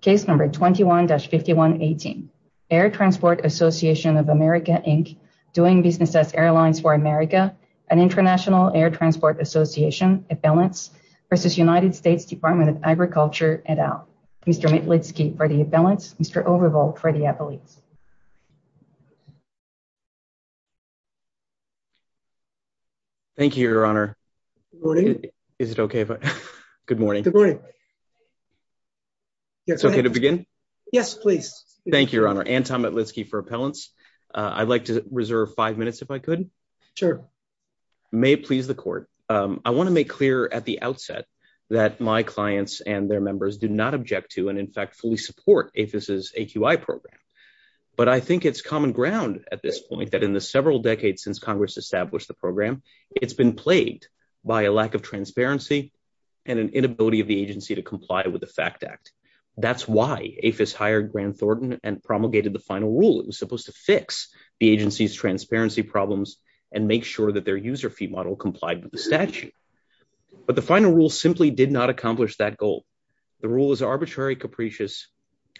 Case number 21-5118, Air Transport Association of America, Inc., Doing Business as Airlines for America, an International Air Transport Association, a balance versus United States Department of Agriculture et al. Mr. Mitlitsky for the balance, Mr. Overvolt for the appellate. Thank you, your honor. Is it okay? Good morning. It's okay to begin? Yes, please. Thank you, your honor. Anton Mitlitsky for appellants. I'd like to reserve five minutes if I could. Sure. May it please the court. I want to make clear at the outset that my clients and their members do not object to and in fact fully support APHIS's AQI program. But I think it's common ground at this point that in the several decades since Congress established the program, it's been plagued by a lack of transparency and an inability of the agency to comply with the FACT Act. That's why APHIS hired Grant Thornton and promulgated the final rule. It was supposed to fix the agency's transparency problems and make sure that their user fee model complied with the statute. But the final rule simply did not accomplish that goal. The rule is arbitrary, capricious,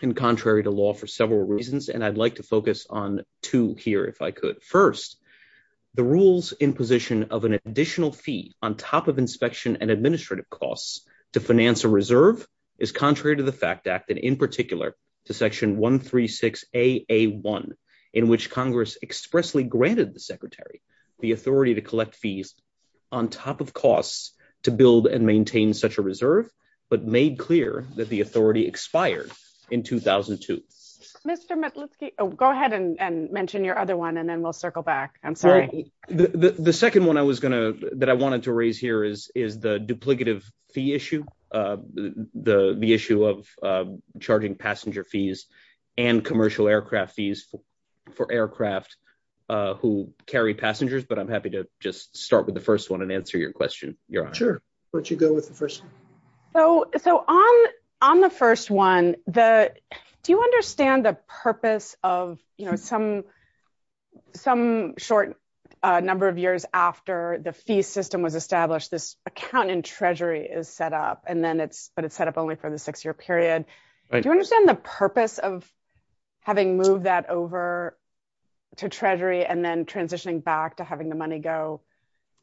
and contrary to law for several reasons, and I'd like to focus on two here if I could. First, the rules in position of an additional fee on top of inspection and administrative costs to finance a reserve is contrary to the FACT Act, and in particular to Section 136AA1, in which Congress expressly granted the Secretary the authority to collect fees on top of costs to build and maintain such a reserve, but made clear that the authority expired in 2002. Mr. Matlitsky, go ahead and mention your other one and then we'll circle back. I'm sorry. The second one that I wanted to raise here is the duplicative fee issue, the issue of charging passenger fees and commercial aircraft fees for aircraft who carry passengers. But I'm happy to just start with the first one and answer your question, Your Honor. Sure. Why don't you go with the first one? So on the first one, do you understand the purpose of some short number of years after the fee system was established, this account in Treasury is set up, but it's set up only for the six-year period. Do you understand the purpose of having moved that over to Treasury and then transitioning back to having the money go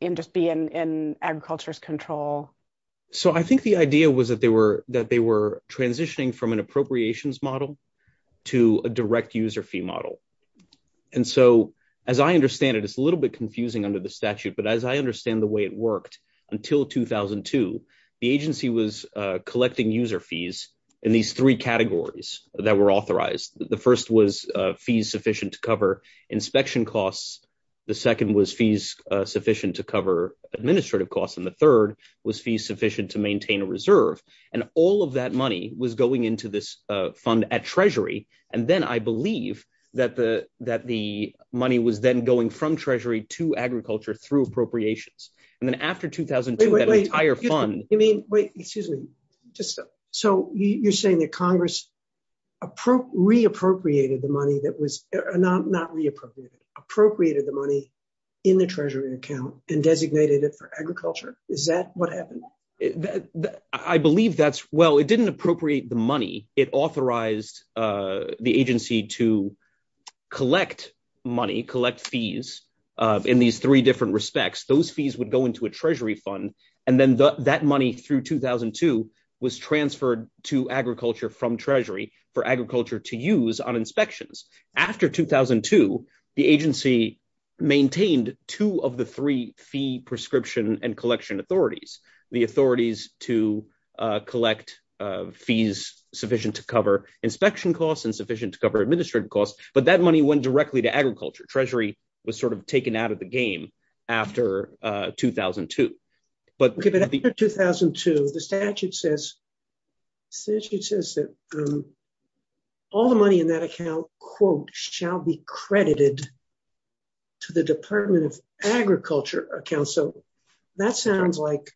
and just be in agriculture's control? So I think the idea was that they were transitioning from an appropriations model to a direct user fee model. And so as I understand it, it's a little bit confusing under the statute, but as I understand the way it worked until 2002, the agency was collecting user fees in these three categories that were authorized. The first was fees sufficient to cover inspection costs. The second was fees sufficient to cover administrative costs. And the third was fees sufficient to maintain a reserve. And all of that money was going into this fund at Treasury. And then I believe that the money was then going from Treasury to agriculture through appropriations. And then after 2002, that entire fund- Wait, excuse me. So you're saying that Congress re-appropriated the money that was- not re-appropriated, appropriated the money in the Treasury account and designated it for agriculture? Is that what happened? I believe that's- Well, it didn't appropriate the money. It authorized the agency to collect money, collect fees in these three different respects. Those fees would go into a Treasury fund. And then that money through 2002 was transferred to agriculture from Treasury for agriculture to use on inspections. After 2002, the agency maintained two of the three fee prescription and collection authorities. The authorities to collect fees sufficient to cover inspection costs and sufficient to cover administrative costs. But that money went directly to agriculture. Treasury was sort of taken out of the game after 2002. But after 2002, the statute says that all the money in that account, quote, shall be credited to the Department of Agriculture account. So that sounds like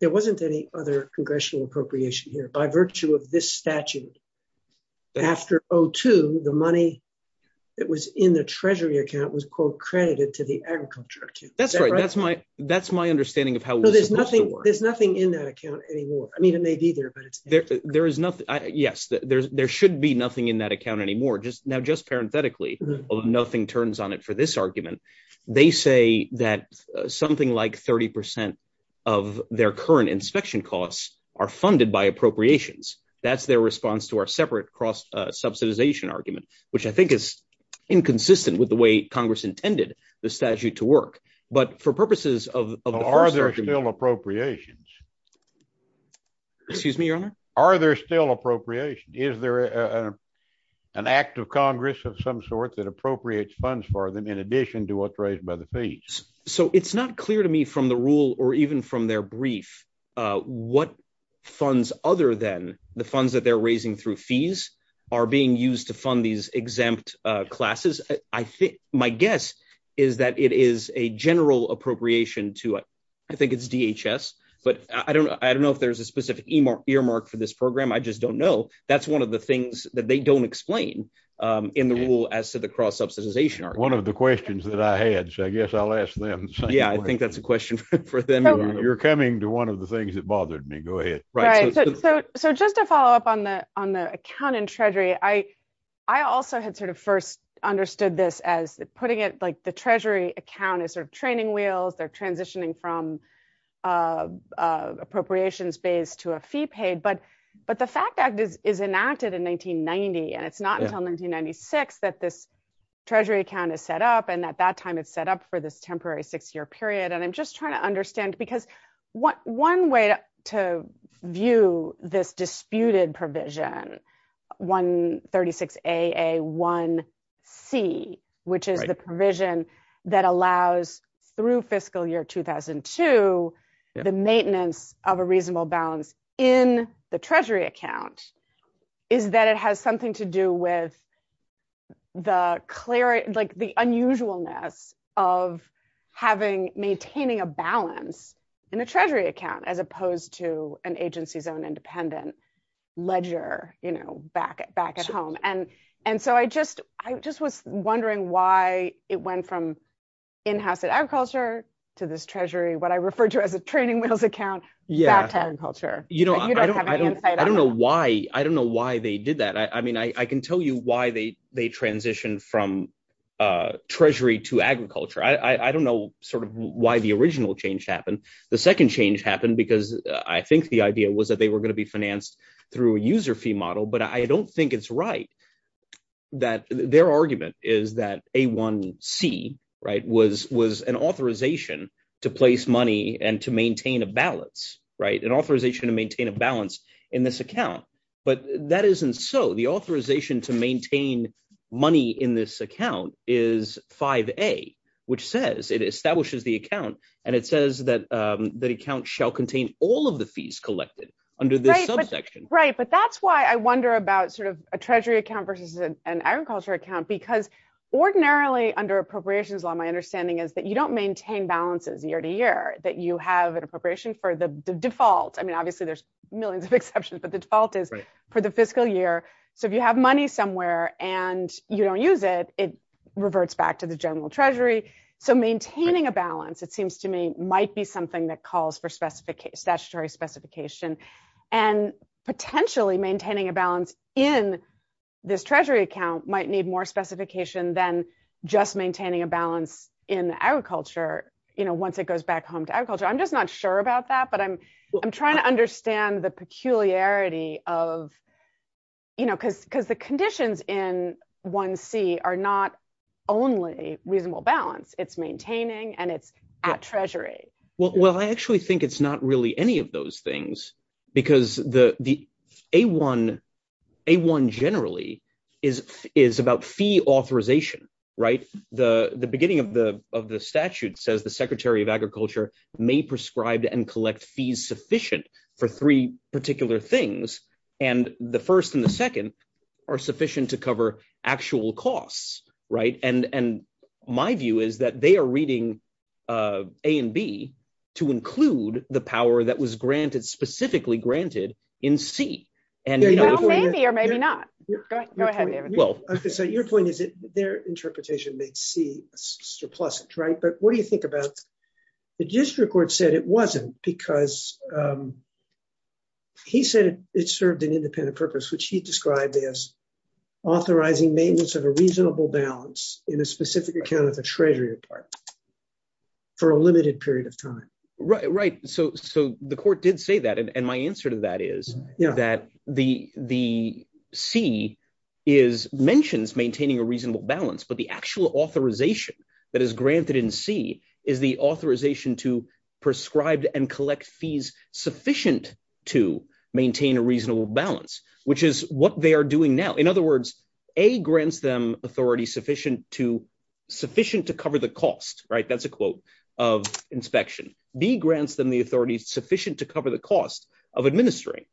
there wasn't any other congressional appropriation here by virtue of this statute. After 2002, the money that was in the Treasury account was, quote, credited to the agriculture. That's right. That's my understanding of how- There's nothing in that account anymore. I mean, it may be there, but it's- Yes, there should be nothing in that account anymore. Now, just parenthetically, nothing turns on it for this argument. They say that something like 30% of their current inspection costs are funded by appropriations. That's their response to our separate cross-subsidization argument, which I think is inconsistent with the way Congress intended the statute to work. But for purposes of- Are there still appropriations? Excuse me, Your Honor? Are there still appropriations? Is there an act of Congress of some sort that appropriates funds for them in addition to what's raised by the fees? So it's not clear to me from the rule or even from their brief what funds other than the funds that they're raising through fees are being used to fund these exempt classes. My guess is that it is a general appropriation to, I think it's DHS, but I don't know if there's a specific earmark for this program. I just don't know. That's one of the things that they don't explain in the rule as to the cross-subsidization argument. One of the questions that I had, so I guess I'll ask them. Yeah, I think that's a question for them. You're coming to one of the things that bothered me. Go ahead. Right, so just to follow up on the account in Treasury, I also had sort of first understood this as putting it, like the Treasury account is sort of training wheels. They're transitioning from appropriations based to a fee paid. But the FACT Act is enacted in 1990, and it's not until 1996 that this Treasury account is set up. And at that time, it's set up for this temporary six-year period. And I'm just trying to understand, because one way to view this disputed provision, 136AA1C, which is the provision that allows, through fiscal year 2002, the maintenance of a reasonable balance in the Treasury account, is that it has something to do with the unusualness of maintaining a balance in a Treasury account as opposed to an agency's own independent ledger back at home. And so I just was wondering why it went from in-house at agriculture to this Treasury, what I refer to as a training wheels account, back to agriculture. Yeah, I don't know why they did that. I mean, I can tell you why they transitioned from Treasury to agriculture. I don't know sort of why the original change happened. The second change happened because I think the idea was that they were going to be financed through a user fee model. But I don't think it's right that their argument is that A1C, right, was an authorization to place money and to maintain a balance, right? An authorization to maintain a balance in this account. But that isn't so. The authorization to maintain money in this account is 5A, which says it establishes the account. And it says that the account shall contain all of the fees collected under this subsection. Right, but that's why I wonder about sort of a Treasury account versus an agriculture account, because ordinarily under appropriations law, my understanding is that you don't maintain balances year to year, that you have an appropriation for the default. I mean, obviously there's millions of exceptions, but the default is for the fiscal year. So if you have money somewhere and you don't use it, it reverts back to the general Treasury. So maintaining a balance, it seems to me, might be something that calls for statutory specification. And potentially maintaining a balance in this Treasury account might need more specification than just maintaining a balance in agriculture, you know, once it goes back home to agriculture. I'm just not sure about that, but I'm trying to understand the peculiarity of, you know, because the conditions in 1C are not only reasonable balance. It's maintaining and it's at Treasury. Well, I actually think it's not really any of those things because the A1 generally is about fee authorization, right? The beginning of the statute says the Secretary of Agriculture may prescribe and collect fees sufficient for three particular things. And the first and the second are sufficient to cover actual costs, right? And my view is that they are reading A and B to include the power that was granted, specifically granted in C. Well, maybe or maybe not. Go ahead, David. Well, so your point is that their interpretation makes C a surplus, right? But what do you think about the district court said it wasn't because he said it served an independent purpose, which he described as authorizing maintenance of a reasonable balance in a specific account of the Treasury Department for a limited period of time. Right, right. So the court did say that. And my answer to that is that the C is, mentions maintaining a reasonable balance, but the actual authorization that is granted in C is the authorization to prescribed and collect fees sufficient to maintain a reasonable balance, which is what they are doing now. In other words, A grants them authority sufficient to sufficient to cover the cost, right? That's a quote of inspection. B grants them the authority sufficient to cover the cost of administering,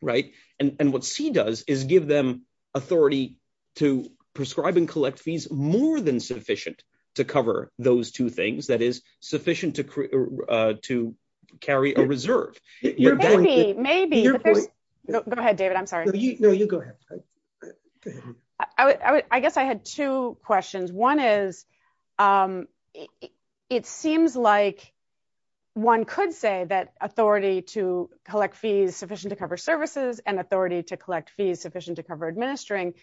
right? And what C does is give them authority to prescribe and collect fees more than sufficient to cover those two things. That is sufficient to carry a reserve. Maybe, go ahead, David. I'm sorry. I guess I had two questions. One is, it seems like one could say that authority to collect fees sufficient to cover services and authority to collect fees sufficient to cover administering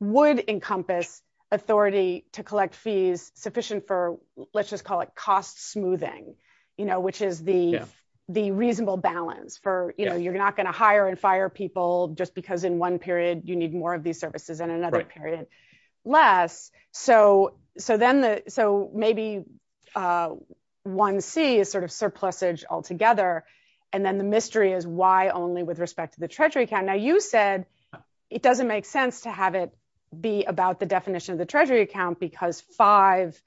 would encompass authority to collect fees sufficient for, let's just call it cost smoothing, which is the reasonable balance for, you're not gonna hire and fire people just because in one period you need more of these services and another period less. So maybe one C is sort of surplusage altogether. And then the mystery is why only with respect to the treasury account. Now you said it doesn't make sense to have it be about the definition of the treasury account because five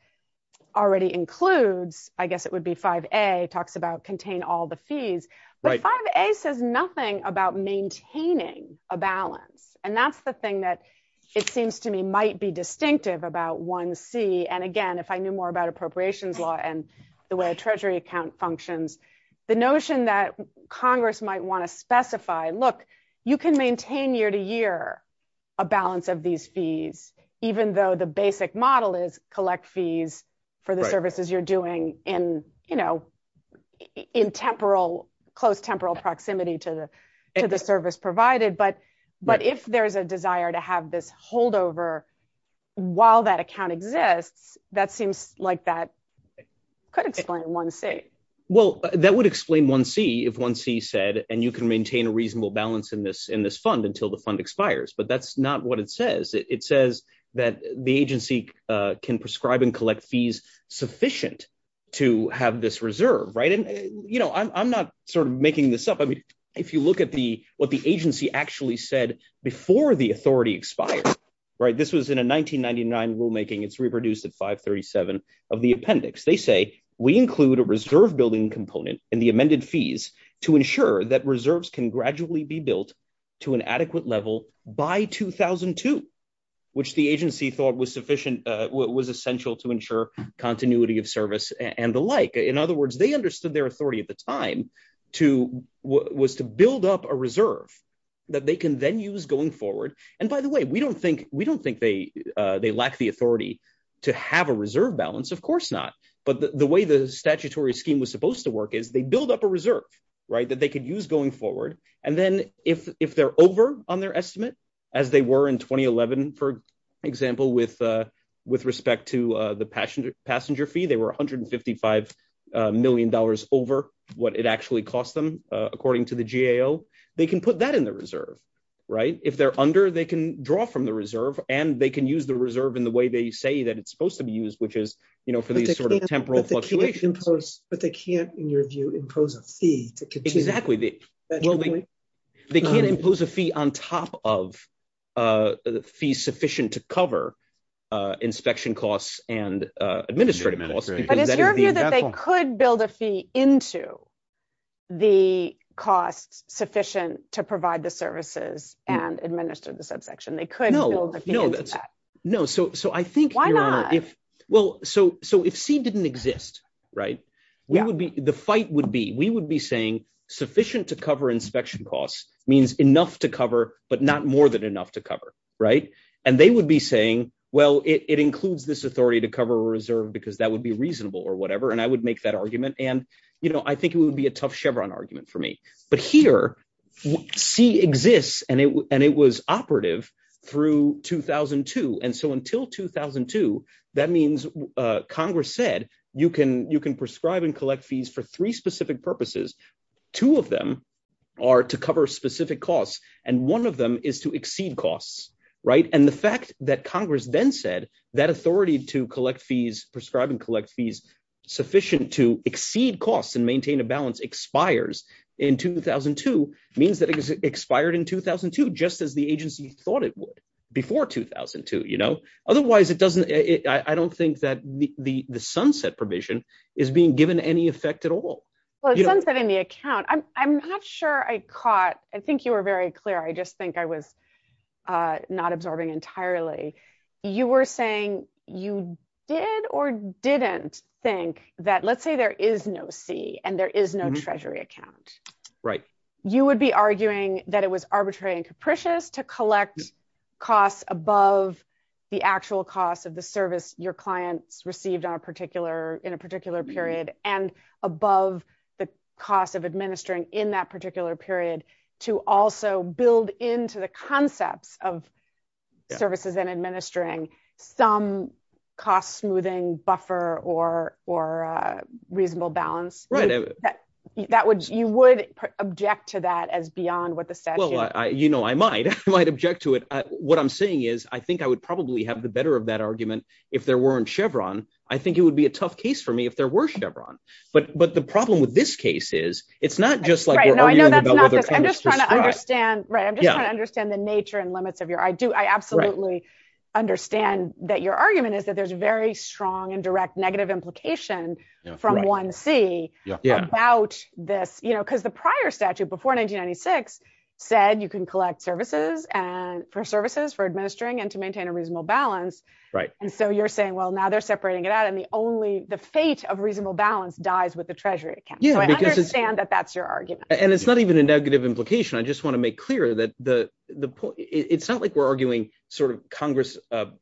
already includes, I guess it would be 5A talks about contain all the fees. But 5A says nothing about maintaining a balance. And that's the thing that it seems to me might be distinctive about one C. And again, if I knew more about appropriations law and the way the treasury account functions, the notion that Congress might wanna specify, look, you can maintain year to year a balance of these fees, even though the basic model is collect fees for the services you're doing in temporal, close temporal proximity to the service provided. But if there's a desire to have this holdover while that account exists, that seems like that could explain one C. Well, that would explain one C if one C said, and you can maintain a reasonable balance in this fund until the fund expires, but that's not what it says. It says that the agency can prescribe and collect fees sufficient to have this reserve, right? And I'm not sort of making this up. I mean, if you look at what the agency actually said before the authority expired, right? This was in a 1999 rulemaking. It's reproduced at 537 of the appendix. They say, we include a reserve building component in the amended fees to ensure that reserves can gradually be built to an adequate level by 2002, which the agency thought was essential to ensure continuity of service and the like. In other words, they understood their authority at the time was to build up a reserve that they can then use going forward. And by the way, we don't think they lack the authority to have a reserve balance, of course not. But the way the statutory scheme was supposed to work is they build up a reserve, right? And then if they're over on their estimate, as they were in 2011, for example, with respect to the passenger fee, they were $155 million over what it actually cost them according to the GAO. They can put that in the reserve, right? If they're under, they can draw from the reserve and they can use the reserve in the way they say that it's supposed to be used, which is, you know, for these sort of temporal fluctuations. But they can't, in your view, impose a fee to continue. Exactly. They can't impose a fee on top of a fee sufficient to cover inspection costs and administrative costs. But it's your view that they could build a fee into the costs sufficient to provide the services and administer the subsection. They could build a fee into that. No, so I think- Why not? Well, so if C didn't exist, right? The fight would be, we would be saying, sufficient to cover inspection costs means enough to cover, but not more than enough to cover, right? And they would be saying, well, it includes this authority to cover a reserve because that would be reasonable or whatever. And I would make that argument. And, you know, I think it would be a tough Chevron argument for me. But here, C exists and it was operative through 2002. And so until 2002, that means Congress said, you can prescribe and collect fees for three specific purposes. Two of them are to cover specific costs. And one of them is to exceed costs, right? And the fact that Congress then said that authority to collect fees, prescribe and collect fees sufficient to exceed costs and maintain a balance expires in 2002, means that it was expired in 2002, just as the agency thought it would before 2002, you know? Otherwise it doesn't, I don't think that the sunset provision is being given any effect at all. Well, it's sunsetting the account. I'm not sure I caught, I think you were very clear. I just think I was not absorbing entirely. You were saying you did or didn't think that, let's say there is no C and there is no treasury account. Right. You would be arguing that it was arbitrary and capricious to collect costs above the actual costs of the service your clients received in a particular period, and above the cost of administering in that particular period, to also build into the concepts of services and administering some cost smoothing buffer or reasonable balance. You would object to that as beyond what the statute- Well, you know, I might, I might object to it. What I'm saying is, I think I would probably have the better of that argument if there weren't Chevron. I think it would be a tough case for me if there were Chevron. But the problem with this case is, it's not just like- Right, no, I know that's not this. I'm just trying to understand, right? I'm just trying to understand the nature and limits of your, I do, I absolutely understand that your argument is that there's very strong and direct negative implication from 1C about this, because the prior statute before 1996 said you can collect services and for services for administering and to maintain a reasonable balance. Right. So you're saying, well, now they're separating it out and the only, the fate of reasonable balance dies with the treasury account. So I understand that that's your argument. And it's not even a negative implication. I just want to make clear that the, it's not like we're arguing sort of Congress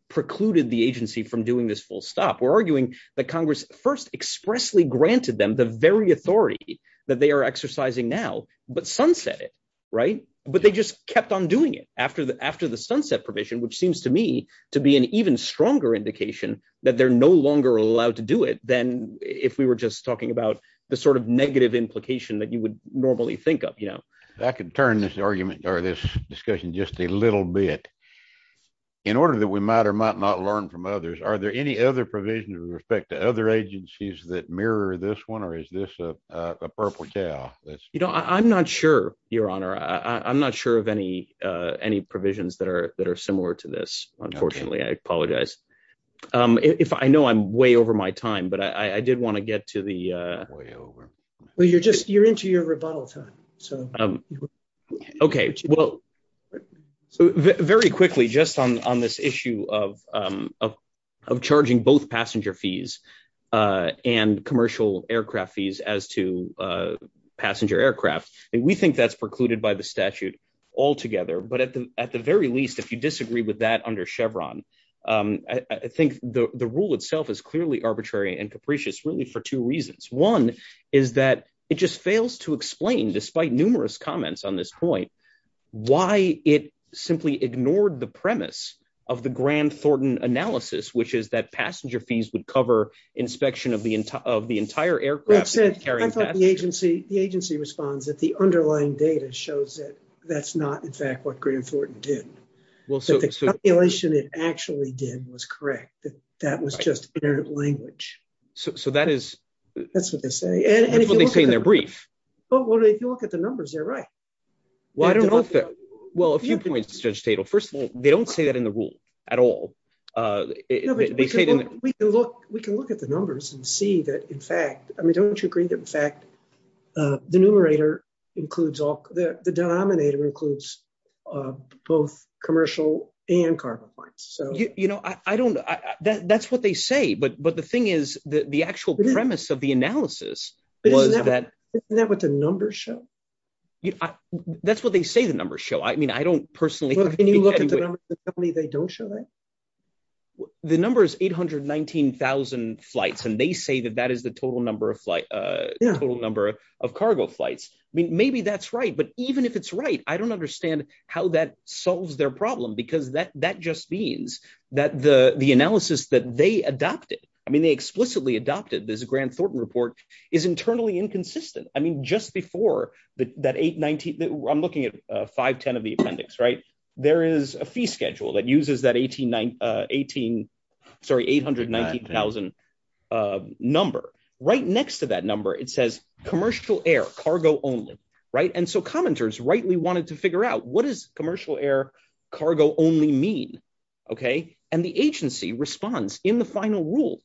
precluded the agency from doing this full stop. We're arguing that Congress first expressly granted them the very authority that they are exercising now, but sunset it, right? But they just kept on doing it after the sunset provision, which seems to me to be an even stronger indication that they're no longer allowed to do it. Then if we were just talking about the sort of negative implication that you would normally think of, you know. I can turn this argument or this discussion just a little bit in order that we might or might not learn from others. Are there any other provisions with respect to other agencies that mirror this one? Or is this a purple cow? That's, you know, I'm not sure your honor. I'm not sure of any, any provisions that are, that are similar to this. Unfortunately, I apologize if I know I'm way over my time, but I did want to get to the way over. Well, you're just, you're into your rebuttal time. So, okay. Well, so very quickly, just on this issue of, of charging both passenger fees and commercial aircraft fees as to passenger aircraft. And we think that's precluded by the statute altogether. But at the, at the very least, if you disagree with that under Chevron, I think the, the rule itself is clearly arbitrary and capricious really for two reasons. One is that it just fails to explain despite numerous comments on this point, why it simply ignored the premise of the grand Thornton analysis, which is that passenger fees would cover inspection of the entire, of the entire aircraft. The agency responds that the underlying data shows that that's not in fact what grand Thornton did. Well, so the calculation it actually did was correct. That was just inherent language. So that is, that's what they say. And that's what they say in their brief. Well, if you look at the numbers, they're right. Well, I don't know if they're, well, a few points, Judge Tatel. First of all, they don't say that in the rule at all. We can look at the numbers and see that in fact, I mean, don't you agree that in fact, the numerator includes all, the denominator includes both commercial and carbon flights. So, you know, I don't, that's what they say, but the thing is that the actual premise of the analysis was that- Isn't that what the numbers show? That's what they say the numbers show. I mean, I don't personally- Well, can you look at the numbers and tell me they don't show that? The number is 819,000 flights. And they say that that is the total number of flight, the total number of cargo flights. I mean, maybe that's right, but even if it's right, I don't understand how that solves their problem because that just means that the analysis that they adopted, I mean, they explicitly adopted this Grant Thornton report is internally inconsistent. I mean, just before that 819, I'm looking at 510 of the appendix, right? There is a fee schedule that uses that 18, sorry, 819,000 number. Right next to that number, it says commercial air cargo only, right? And so commenters rightly wanted to figure out what does commercial air cargo only mean, okay? And the agency responds in the final rule.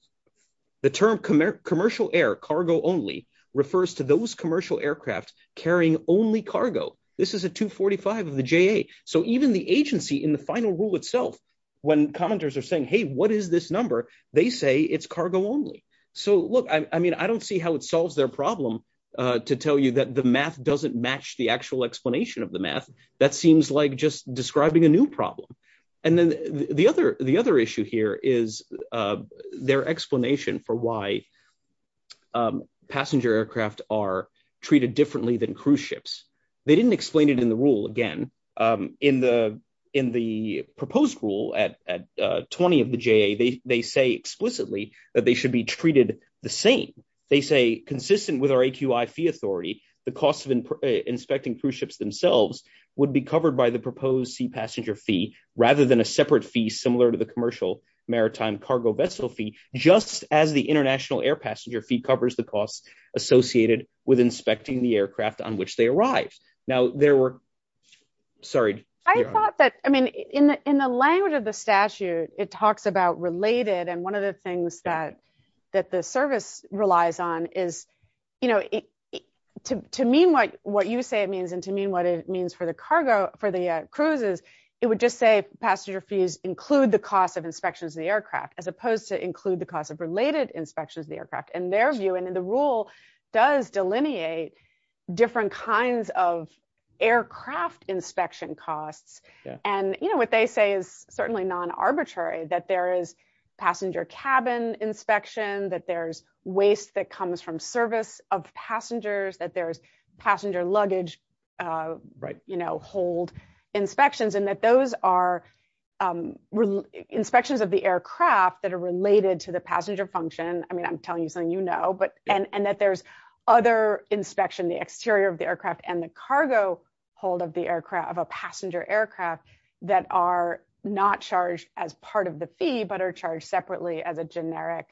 The term commercial air cargo only refers to those commercial aircraft carrying only cargo. This is a 245 of the JA. So even the agency in the final rule itself, when commenters are saying, hey, what is this number? They say it's cargo only. So look, I mean, I don't see how it solves their problem to tell you that the math doesn't match the actual explanation of the math. That seems like just describing a new problem. And then the other issue here is their explanation for why passenger aircraft are treated differently than cruise ships. They didn't explain it in the rule again. In the proposed rule at 20 of the JA, they say explicitly that they should be treated the same. They say consistent with our AQI fee authority, the cost of inspecting cruise ships themselves would be covered by the proposed sea passenger fee rather than a separate fee similar to the commercial maritime cargo vessel fee, just as the international air passenger fee covers the costs associated with inspecting the aircraft on which they arrived. Now there were, sorry. I thought that, I mean, in the language of the statute, it talks about related. And one of the things that the service relies on is, you know, to mean what you say it means and to mean what it means for the cargo, for the cruises, it would just say passenger fees include the cost of inspections of the aircraft as opposed to include the cost of related inspections of the aircraft. And their view and the rule does delineate different kinds of aircraft inspection costs. And, you know, what they say is certainly non-arbitrary that there is passenger cabin inspection, that there's waste that comes from service of passengers, that there's passenger luggage, you know, hold inspections and that those are inspections of the aircraft that are related to the passenger function. I mean, I'm telling you something you know, and that there's other inspection, the exterior of the aircraft and the cargo hold of a passenger aircraft that are not charged as part of the fee, but are charged separately as a generic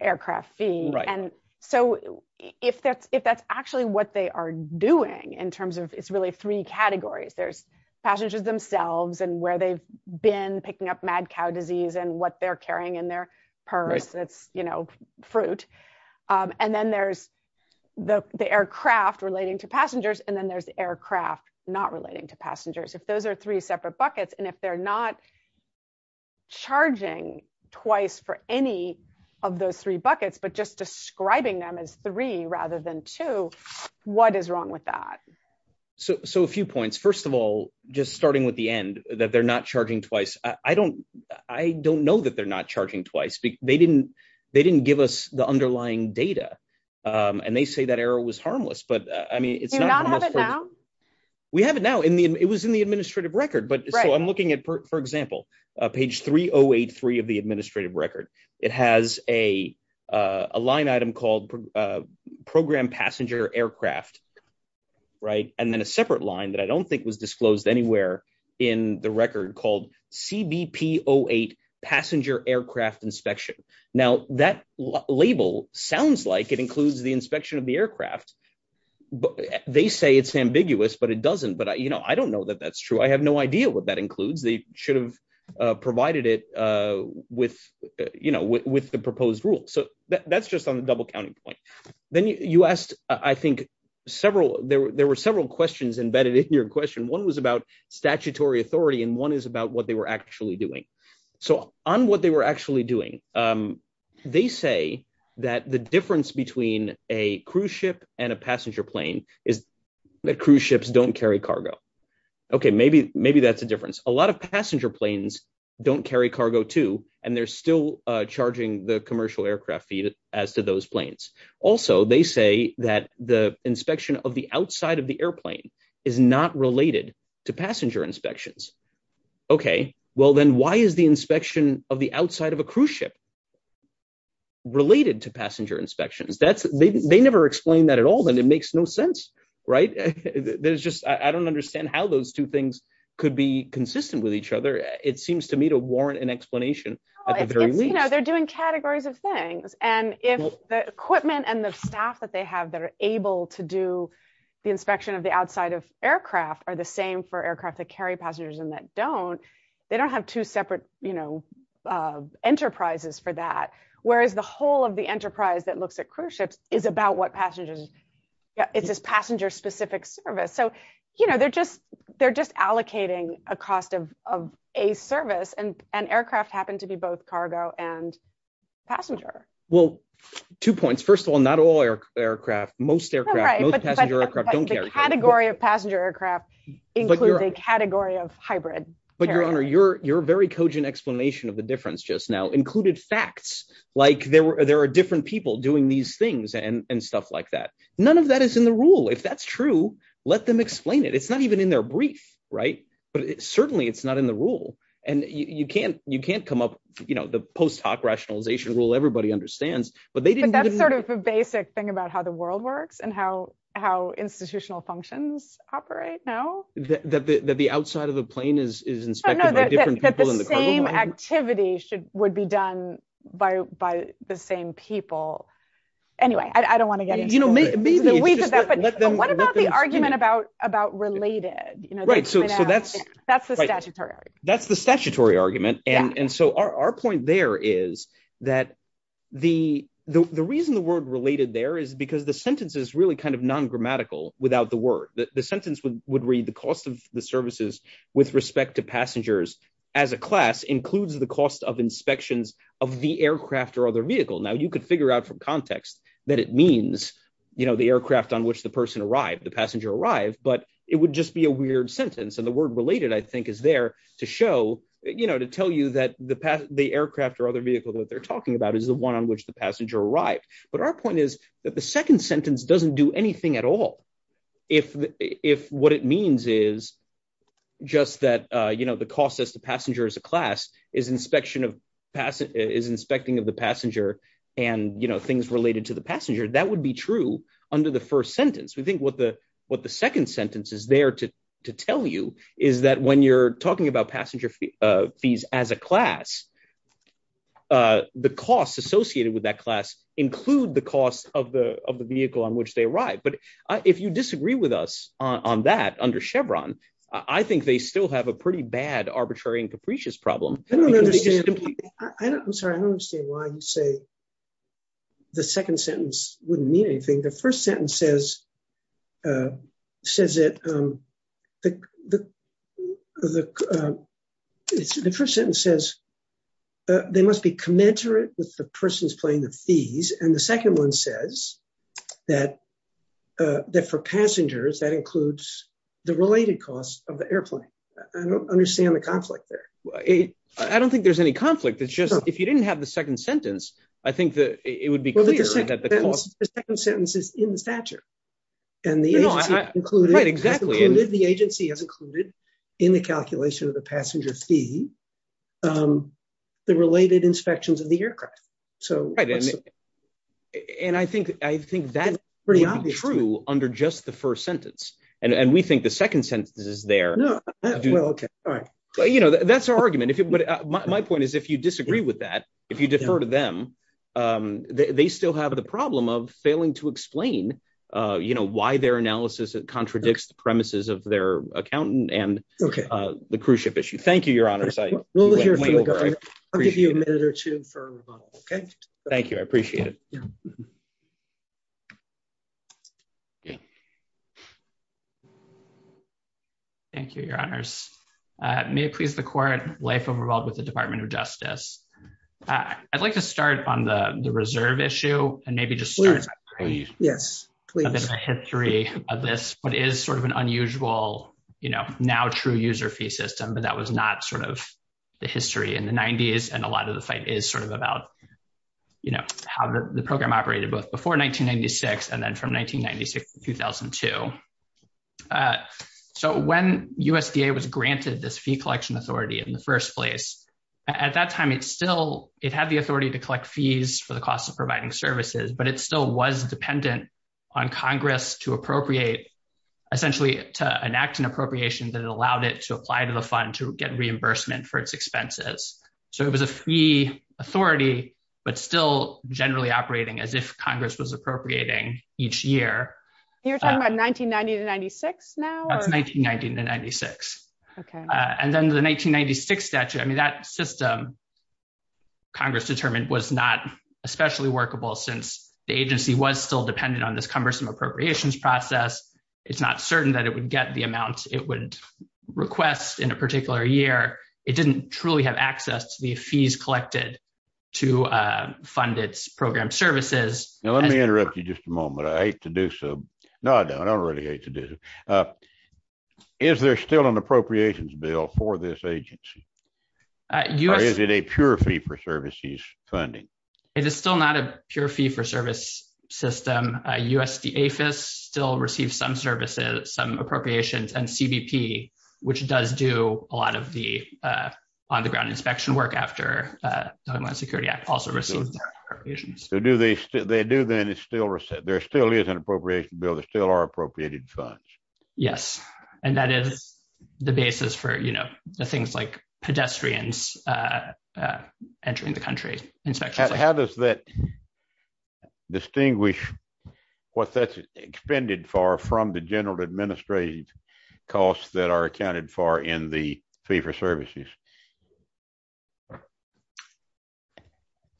aircraft fee. And so if that's actually what they are doing in terms of it's really three categories, there's passengers themselves and where they've been picking up mad cow disease and what they're carrying in their purse, that's, you know, fruit. And then there's the aircraft relating to passengers. And then there's the aircraft not relating to passengers. If those are three separate buckets, and if they're not charging twice for any of those three buckets, but just describing them as three rather than two, what is wrong with that? So a few points. First of all, just starting with the end that they're not charging twice. I don't know that they're not charging twice. They didn't give us the underlying data and they say that error was harmless, but I mean, it's not- Do we not have it now? We have it now. It was in the administrative record, but so I'm looking at, for example, page 3083 of the administrative record. It has a line item called program passenger aircraft, right? And then a separate line that I don't think was disclosed anywhere in the record called CBP-08 passenger aircraft inspection. Now that label sounds like it includes the inspection of the aircraft, but they say it's ambiguous, but it doesn't. But I don't know that that's true. I have no idea what that includes. They should have provided it with the proposed rule. So that's just on the double counting point. Then you asked, I think, there were several questions embedded in your question. One was about statutory authority and one is about what they were actually doing. So on what they were actually doing, they say that the difference between a cruise ship and a passenger plane is that cruise ships don't carry cargo. Okay, maybe that's a difference. A lot of passenger planes don't carry cargo too and they're still charging the commercial aircraft fee as to those planes. Also, they say that the inspection of the outside of the airplane is not related to passenger inspections. Okay, well then why is the inspection of the outside of a cruise ship related to passenger inspections? They never explained that at all and it makes no sense, right? I don't understand how those two things could be consistent with each other. It seems to me to warrant an explanation at the very least. They're doing categories of things. And if the equipment and the staff that they have that are able to do the inspection of the outside of aircraft are the same for aircraft that carry passengers and that don't, they don't have two separate enterprises for that. Whereas the whole of the enterprise that looks at cruise ships is about what passengers, it's this passenger specific service. So they're just allocating a cost of a service and aircraft happened to be both cargo and passenger. Well, two points. First of all, not all aircraft, most aircraft, most passenger aircraft don't carry cargo. But the category of passenger aircraft includes a category of hybrid. But Your Honor, your very cogent explanation of the difference just now included facts. Like there are different people doing these things and stuff like that. None of that is in the rule. If that's true, let them explain it. It's not even in their brief, right? But certainly it's not in the rule. And you can't come up, the post hoc rationalization rule, everybody understands. But that's sort of a basic thing about how the world works and how institutional functions operate now. That the outside of the plane is inspected by different people in the cargo line? That the same activity would be done by the same people. Anyway, I don't want to get into it. You know, maybe it's just that, but what about the argument about related? Right, so that's- That's the statutory argument. That's the statutory argument. And so our point there is that the reason the word related there is because the sentence is really kind of non-grammatical without the word. The sentence would read, the cost of the services with respect to passengers as a class includes the cost of inspections of the aircraft or other vehicle. Now you could figure out from context that it means, you know, the aircraft on which the person arrived, the passenger arrived, but it would just be a weird sentence. And the word related, I think, is there to show, you know, to tell you that the aircraft or other vehicle that they're talking about is the one on which the passenger arrived. But our point is that the second sentence doesn't do anything at all. If what it means is just that, you know, the cost as the passenger as a class is inspecting of the passenger and, you know, things related to the passenger, that would be true under the first sentence. We think what the second sentence is there to tell you is that when you're talking about passenger fees as a class, the costs associated with that class include the cost of the vehicle on which they arrived. But if you disagree with us on that under Chevron, I think they still have a pretty bad arbitrary and capricious problem. I don't understand. I'm sorry, I don't understand why you say the second sentence wouldn't mean anything. The first sentence says, the first sentence says, they must be commensurate with the person's plane, the fees. And the second one says that for passengers, that includes the related costs of the airplane. I don't understand the conflict there. I don't think there's any conflict. It's just, if you didn't have the second sentence, I think that it would be clear that the cost- And the agency has included in the calculation of the passenger fee, the related inspections of the aircraft. And I think that would be true under just the first sentence. And we think the second sentence is there. You know, that's our argument. My point is, if you disagree with that, if you defer to them, they still have the problem of failing to explain why their analysis contradicts the premises of their accountant and the cruise ship issue. Thank you, your honors. I'll give you a minute or two for rebuttal, okay? Thank you, I appreciate it. Thank you, your honors. May it please the court, life of revolved with the Department of Justice. I'd like to start on the reserve issue and maybe just start- Yes, please. A bit of a history of this, what is sort of an unusual, you know, now true user fee system, but that was not sort of the history in the 90s. And a lot of the fight is sort of about, you know, how the program operated both before 1996 and then from 1996 to 2002. So when USDA was granted this fee collection authority in the first place, at that time, it still, it had the authority to collect fees for the cost of providing services, but it still was dependent on Congress to appropriate, essentially to enact an appropriation that it allowed it to apply to the fund to get reimbursement for its expenses. So it was a fee authority, but still generally operating as if Congress was appropriating each year. You're talking about 1990 to 96 now? That's 1990 to 96. And then the 1996 statute, I mean, that system, Congress determined was not especially workable since the agency was still dependent on this cumbersome appropriations process. It's not certain that it would get the amount it would request in a particular year. It didn't truly have access to the fees collected to fund its program services. Now, let me interrupt you just a moment. I hate to do so. No, I don't really hate to do. Is there still an appropriations bill for this agency? Or is it a pure fee for services funding? It is still not a pure fee for service system. USDAFIS still receives some services, some appropriations and CBP, which does do a lot of the on the ground inspection work after Homeland Security Act also received appropriations. So they do then, there still is an appropriation bill. There still are appropriated funds. Yes. And that is the basis for the things like pedestrians entering the country, How does that distinguish what that's expended for from the general administrative costs that are accounted for in the fee for services?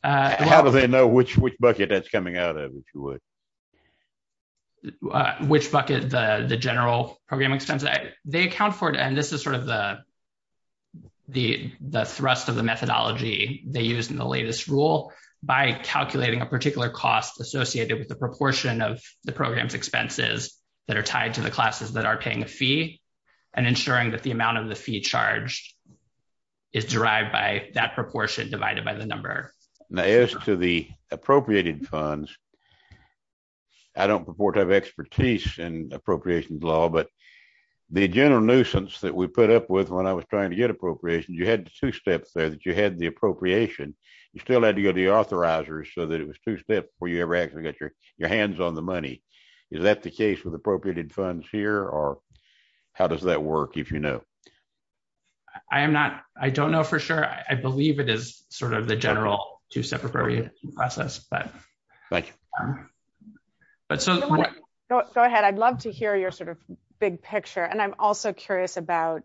How do they know which bucket that's coming out of, if you would? Which bucket, the general program expense. They account for it. And this is sort of the thrust of the methodology they use in the latest rule by calculating a particular cost associated with the proportion of the program's expenses that are tied to the classes that are paying a fee and ensuring that the amount of the fee charged is derived by that proportion divided by the number. Now, as to the appropriated funds, I don't purport to have expertise in appropriations law, but the general nuisance that we put up with when I was trying to get appropriations, you had the two steps there, that you had the appropriation, you still had to go to the authorizers so that it was two steps before you ever actually got your hands on the money. Is that the case with appropriated funds here? Or how does that work if you know? I am not, I don't know for sure. I believe it is sort of the general two-step appropriation process. Thank you. But so- Go ahead. I'd love to hear your sort of big picture. And I'm also curious about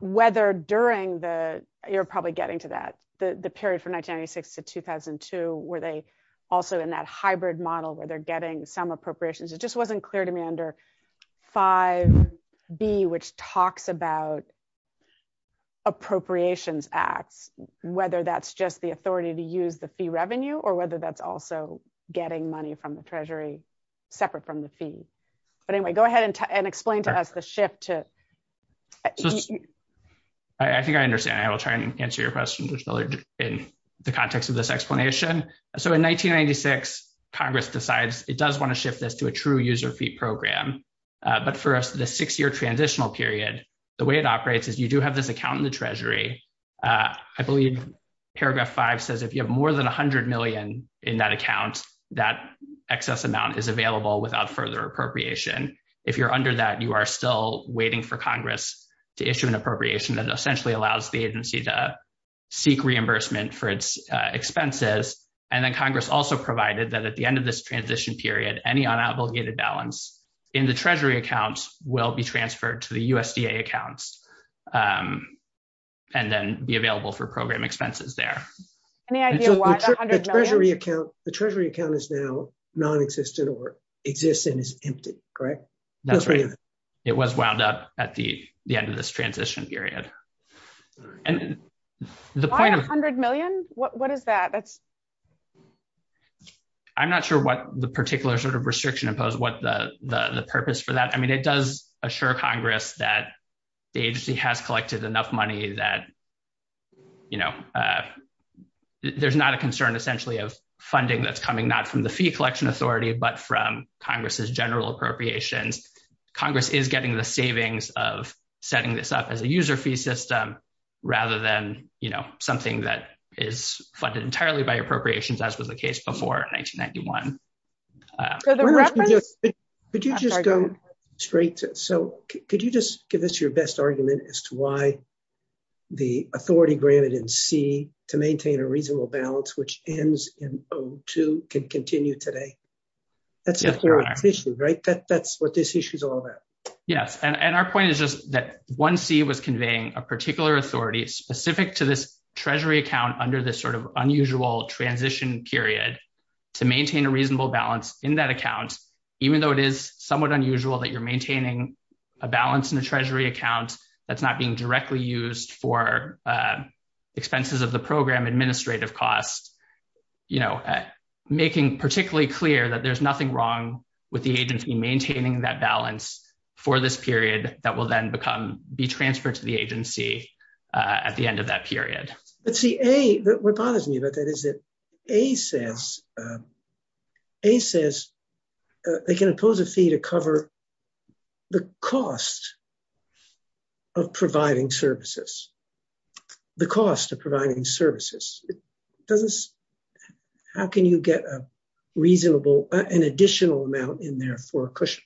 whether during the, you're probably getting to that, the period from 1996 to 2002, were they also in that hybrid model where they're getting some appropriations? It just wasn't clear to me under 5B, which talks about appropriations acts, whether that's just the authority to use the fee revenue or whether that's also getting money from the treasury separate from the fee. But anyway, go ahead and explain to us the shift to- I think I understand. I will try and answer your question in the context of this explanation. So in 1996, Congress decides it does want to shift this to a true user fee program. But for us, the six-year transitional period, the way it operates is you do have this account in the treasury. I believe paragraph five says if you have more than a hundred million in that account, that excess amount is available without further appropriation. If you're under that, you are still waiting for Congress to issue an appropriation that essentially allows the agency to seek reimbursement for its expenses. And then Congress also provided that at the end of this transition period, any unobligated balance in the treasury accounts will be transferred to the USDA accounts and then be available for program expenses there. Any idea why the hundred million? The treasury account is now non-existent or exists and is emptied, correct? That's right. It was wound up at the end of this transition period. And the point of- Why a hundred million? What is that? I'm not sure what the particular sort of restriction imposed what the purpose for that. I mean, it does assure Congress that the agency has collected enough money that, you know, there's not a concern essentially of funding that's coming, not from the fee collection authority, but from Congress's general appropriations. Congress is getting the savings of setting this up as a user fee system, rather than, you know, something that is funded entirely by appropriations, as was the case before 1991. Could you just go straight to, so could you just give us your best argument as to why the authority granted in C to maintain a reasonable balance, which ends in O2, can continue today? That's the issue, right? That's what this issue is all about. Yes. And our point is just that 1C was conveying a particular authority specific to this treasury account under this sort of unusual transition period to maintain a reasonable balance in that account, even though it is somewhat unusual that you're maintaining a balance in a treasury account that's not being directly used for expenses of the program administrative costs, you know, making particularly clear that there's nothing wrong with the agency maintaining that balance for this period that will then become, be transferred to the agency at the end of that period. Let's see, A, what bothers me about that is that A says, A says they can impose a fee to cover the cost of providing services, the cost of providing services. It doesn't, how can you get a reasonable, an additional amount in there for a cushion?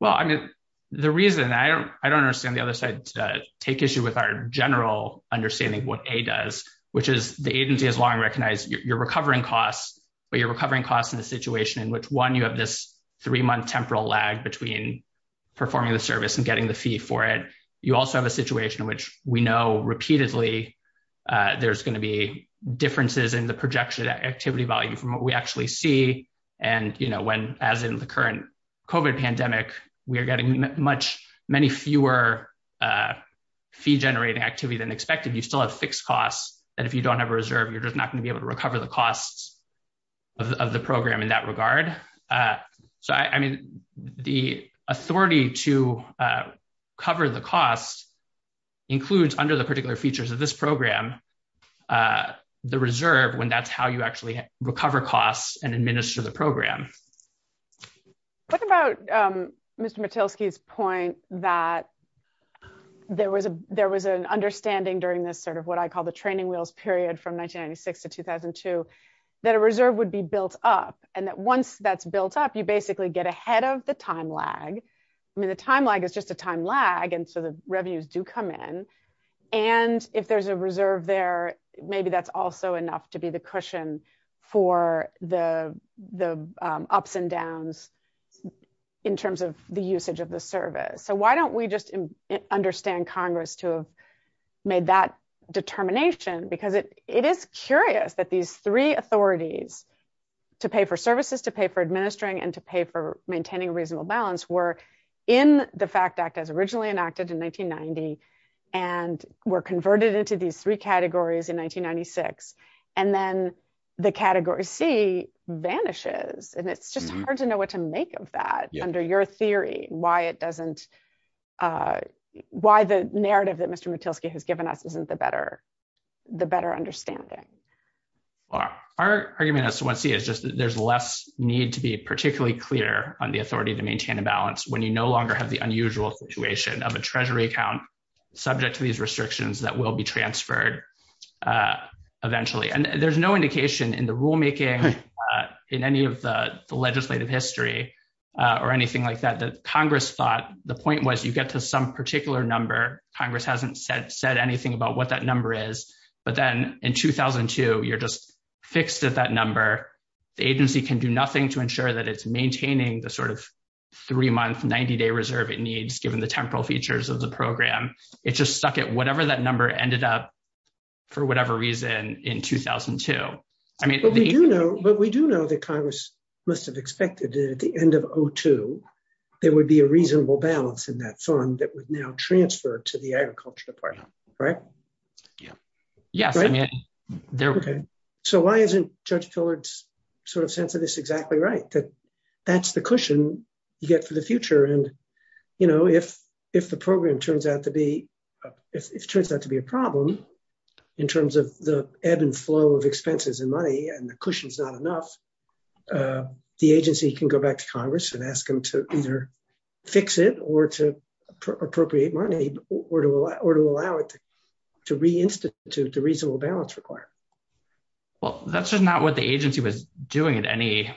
Well, I mean, the reason, I don't understand the other side to take issue with our general understanding what A does, which is the agency has long recognized you're recovering costs, but you're recovering costs in a situation in which one, you have this three-month temporal lag between performing the service and getting the fee for it. You also have a situation in which we know repeatedly there's going to be differences in the projection activity value from what we actually see. And, you know, when, as in the current COVID pandemic, we are getting much, many fewer fee generating activity than expected. You still have fixed costs that if you don't have a reserve, you're just not going to be able to recover the costs of the program in that regard. So, I mean, the authority to cover the costs includes under the particular features of this program, the reserve when that's how you actually recover costs and administer the program. What about Mr. Matilski's point that there was an understanding during this sort of what I call the training wheels period from 1996 to 2002, that a reserve would be built up and that once that's built up, you basically get ahead of the time lag. I mean, the time lag is just a time lag. And so the revenues do come in. And if there's a reserve there, maybe that's also enough to be the cushion for the ups and downs in terms of the usage of the service. So why don't we just understand Congress to have made that determination? Because it is curious that these three authorities to pay for services, to pay for administering, and to pay for maintaining a reasonable balance were in the FACT Act as originally enacted in 1990. And were converted into these three categories in 1996. And then the Category C vanishes. And it's just hard to know what to make of that under your theory, why it doesn't, why the narrative that Mr. Matilski has given us isn't the better understanding. Our argument as to what C is just that there's less need to be particularly clear on the authority to maintain a balance when you no longer have the unusual situation of a treasury account subject to these restrictions that will be transferred eventually. And there's no indication in the rulemaking in any of the legislative history or anything like that, that Congress thought the point was you get to some particular number. Congress hasn't said anything about what that number is. But then in 2002, you're just fixed at that number. The agency can do nothing to ensure that it's maintaining the sort of three-month, 90-day reserve it needs given the temporal features of the program. It just stuck at whatever that number ended up for whatever reason in 2002. But we do know that Congress must have expected that at the end of 2002, there would be a reasonable balance in that fund that would now transfer to the Agriculture Department, right? Yeah, yes. So why isn't Judge Tillard's sort of sense of this exactly right? That that's the cushion you get for the future. You know, if the program turns out to be a problem in terms of the ebb and flow of expenses and money and the cushion's not enough, the agency can go back to Congress and ask them to either fix it or to appropriate money or to allow it to re-institute the reasonable balance required. Well, that's just not what the agency was doing at any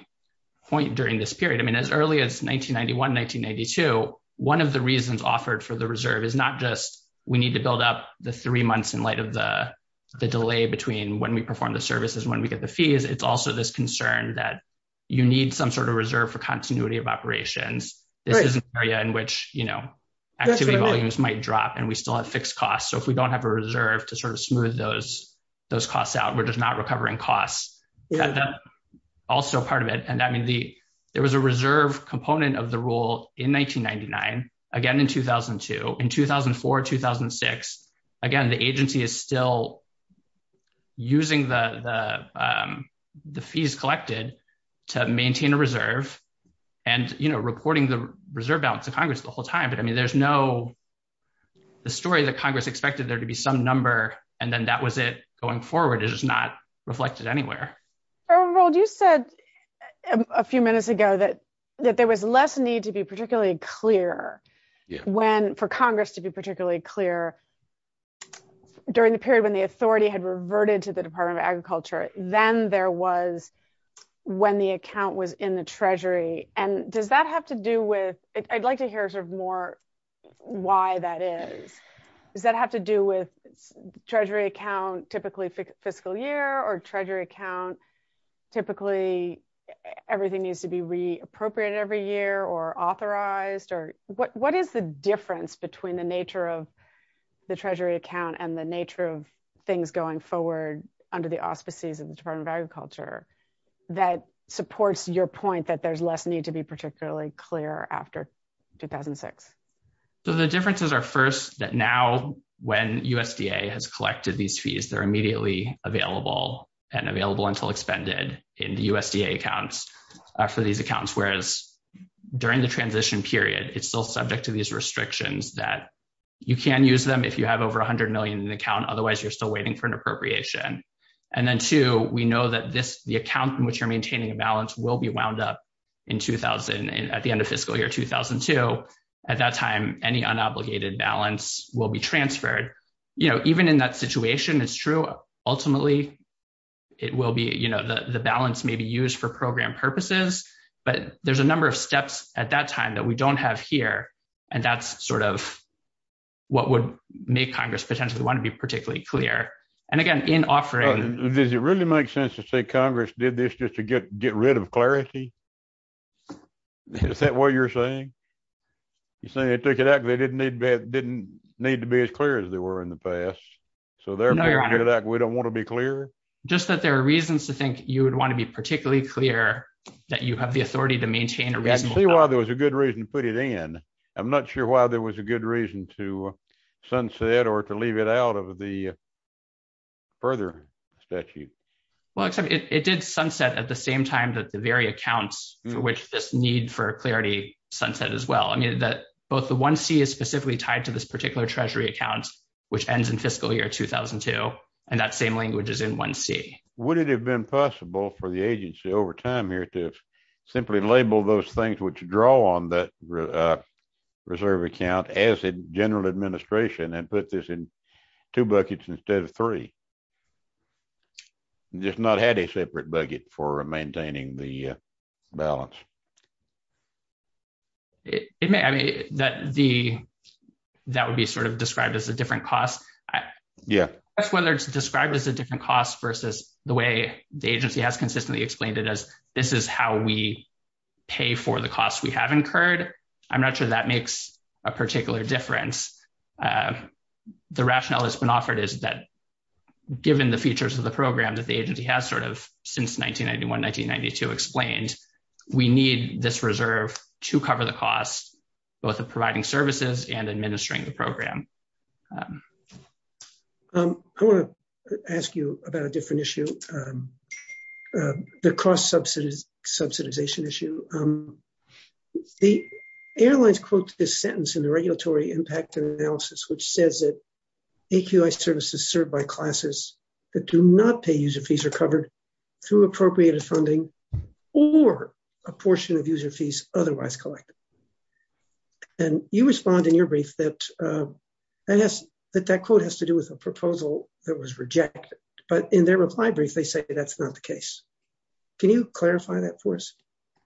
point during this period. As early as 1991, 1992, one of the reasons offered for the reserve is not just we need to build up the three months in light of the delay between when we perform the services when we get the fees. It's also this concern that you need some sort of reserve for continuity of operations. This is an area in which activity volumes might drop and we still have fixed costs. So if we don't have a reserve to sort of smooth those costs out, we're just not recovering costs. Also part of it, there was a reserve component of the rule in 1999, again in 2002, in 2004, 2006. Again, the agency is still using the fees collected to maintain a reserve and reporting the reserve balance to Congress the whole time. But I mean, there's no, the story that Congress expected there to be some number and then that was it going forward is not reflected anywhere. Earl, you said a few minutes ago that there was less need to be particularly clear for Congress to be particularly clear during the period when the authority had reverted to the Department of Agriculture. Then there was when the account was in the treasury. And does that have to do with, I'd like to hear sort of more why that is. Does that have to do with treasury account, typically fiscal year or treasury account, typically everything needs to be re-appropriated every year or authorized? Or what is the difference between the nature of the treasury account and the nature of things going forward under the auspices of the Department of Agriculture that supports your point that there's less need to be particularly clear after 2006? So the differences are first that now when USDA has collected these fees, they're immediately available and available until expended in the USDA accounts for these accounts. Whereas during the transition period, it's still subject to these restrictions that you can use them if you have over 100 million in the account, otherwise you're still waiting for an appropriation. And then two, we know that this, the account in which you're maintaining a balance will be wound up in 2000 at the end of fiscal year 2002. At that time, any unobligated balance will be transferred. Even in that situation, ultimately, the balance may be used for program purposes, but there's a number of steps at that time that we don't have here. And that's sort of what would make Congress potentially want to be particularly clear. And again, in offering... Does it really make sense to say Congress did this just to get rid of clarity? Is that what you're saying? You're saying they took it out because they didn't need to be as clear as they were in the past. So therefore, we don't want to be clear? Just that there are reasons to think you would want to be particularly clear that you have the authority to maintain a reasonable balance. I can see why there was a good reason to put it in. I'm not sure why there was a good reason to sunset or to leave it out of the further statute. Well, except it did sunset at the same time that the very accounts for which this need for clarity sunset as well. I mean, that both the 1C is specifically tied to this particular treasury account, which ends in fiscal year 2002. And that same language is in 1C. Would it have been possible for the agency over time here to simply label those things which draw on that reserve account as a general administration and put this in two buckets instead of three? Just not had a separate bucket for maintaining the balance. It may, I mean, that the... That would be sort of described as a different cost. Yeah. Whether it's described as a different cost versus the way the agency has consistently explained it as this is how we pay for the costs we have incurred. I'm not sure that makes a particular difference. The rationale that's been offered is that given the features of the program that the agency has sort of since 1991, 1992 explained, we need this reserve to cover the costs, both of providing services and administering the program. I want to ask you about a different issue, the cost subsidization issue. The airlines quote this sentence in the regulatory impact analysis, which says that AQI services served by classes that do not pay user fees are covered through appropriated funding or a portion of user fees otherwise collected. And you respond in your brief that I guess that that quote has to do with a proposal that was rejected. But in their reply brief, they say that's not the case. Can you clarify that for us?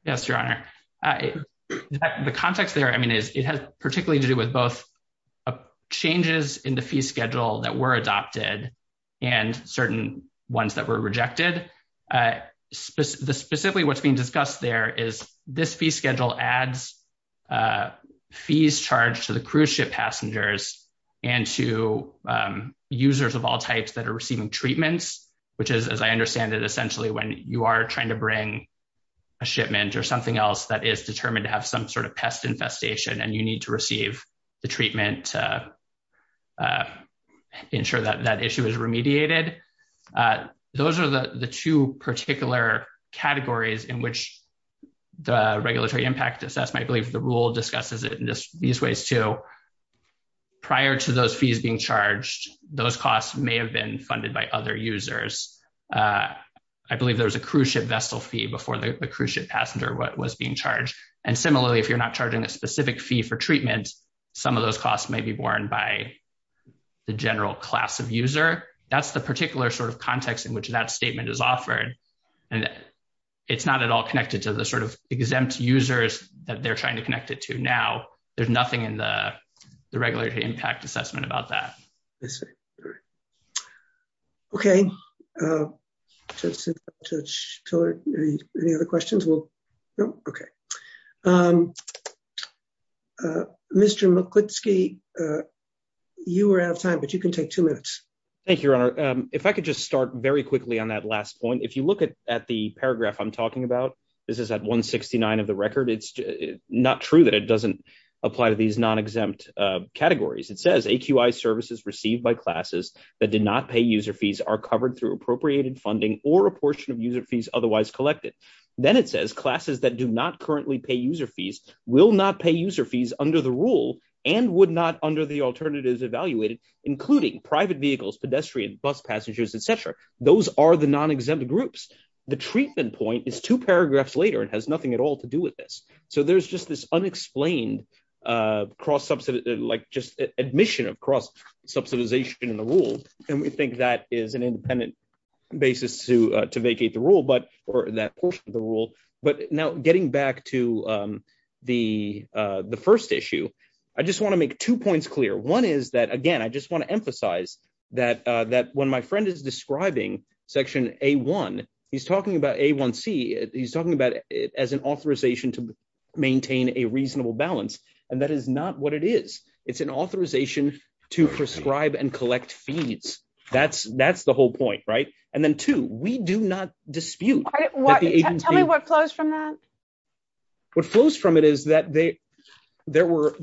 Yes, Your Honor. The context there, I mean, is it has particularly to do with both changes in the fee schedule that were adopted and certain ones that were rejected. Specifically what's being discussed there is this fee schedule adds fees charged to the cruise ship passengers and to users of all types that are receiving treatments, which is, as I understand it, essentially when you are trying to bring a shipment or something else that is determined to have some sort of pest infestation and you need to receive the treatment to ensure that that issue is remediated. Those are the two particular categories in which the regulatory impact assessment, I believe the rule discusses these ways too. Prior to those fees being charged, those costs may have been funded by other users. I believe there was a cruise ship vessel fee before the cruise ship passenger was being charged. And similarly, if you're not charging a specific fee for treatment, some of those costs may be borne by the general class of user. That's the particular sort of context in which that statement is offered. And it's not at all connected to the sort of exempt users that they're trying to connect it to now. There's nothing in the regulatory impact assessment about that. Okay. Mr. McClitsky, you are out of time, but you can take two minutes. Thank you, Your Honor. If I could just start very quickly on that last point. If you look at the paragraph I'm talking about, this is at 169 of the record. It's not true that it doesn't apply to these non-exempt categories. It says, AQI services received by classes that did not pay user fees are covered through appropriated funding or a portion of user fees otherwise collected. Then it says, classes that do not currently pay user fees will not pay user fees under the rule and would not under the alternatives evaluated, including private vehicles, pedestrian, bus passengers, et cetera. Those are the non-exempt groups. The treatment point is two paragraphs later and has nothing at all to do with this. There's just this unexplained admission of cross-subsidization in the rule. We think that is an independent basis to vacate the rule or that portion of the rule. Now, getting back to the first issue, I just want to make two points clear. One is that, again, I just want to emphasize that when my friend is describing section A1, he's talking about A1C, he's talking about it as an authorization to maintain a reasonable balance. And that is not what it is. It's an authorization to prescribe and collect fees. That's the whole point, right? And then two, we do not dispute- Tell me what flows from that. What flows from it is that there were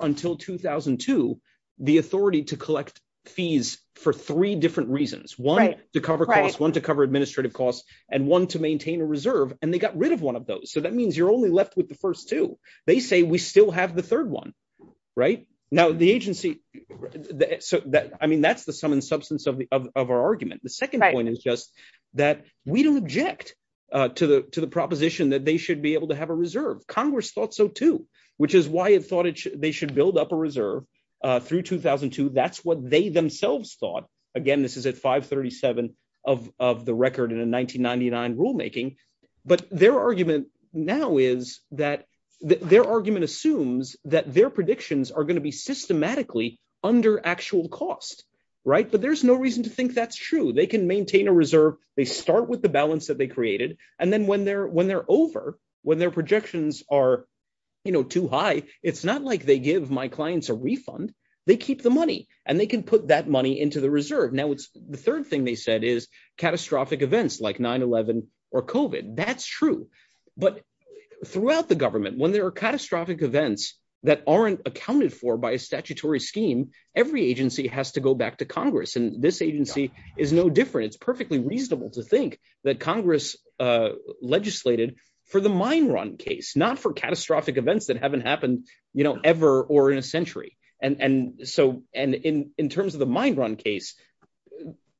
until 2002, the authority to collect fees for three different reasons. One, to cover costs, one to cover administrative costs and one to maintain a reserve. And they got rid of one of those. So that means you're only left with the first two. They say we still have the third one, right? Now, the agency- I mean, that's the sum and substance of our argument. The second point is just that we don't object to the proposition that they should be able to have a reserve. Congress thought so too, which is why it thought they should build up a reserve through 2002. That's what they themselves thought. Again, this is at 537 of the record in a 1999 rulemaking. But their argument now is that- their argument assumes that their predictions are going to be systematically under actual cost, right? But there's no reason to think that's true. They can maintain a reserve. They start with the balance that they created. And then when they're over, when their projections are too high, it's not like they give my clients a refund. They keep the money and they can put that money into the reserve. Now, the third thing they said is catastrophic events like 9-11 or COVID. That's true. But throughout the government, when there are catastrophic events that aren't accounted for by a statutory scheme, every agency has to go back to Congress. And this agency is no different. It's perfectly reasonable to think that Congress legislated for the mine run case, not for catastrophic events that haven't happened, you know, ever or in a century. And in terms of the mine run case,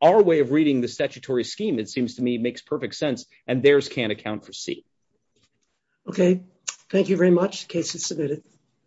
our way of reading the statutory scheme, it seems to me, makes perfect sense. And theirs can't account for C. Okay. Thank you very much. Case is submitted.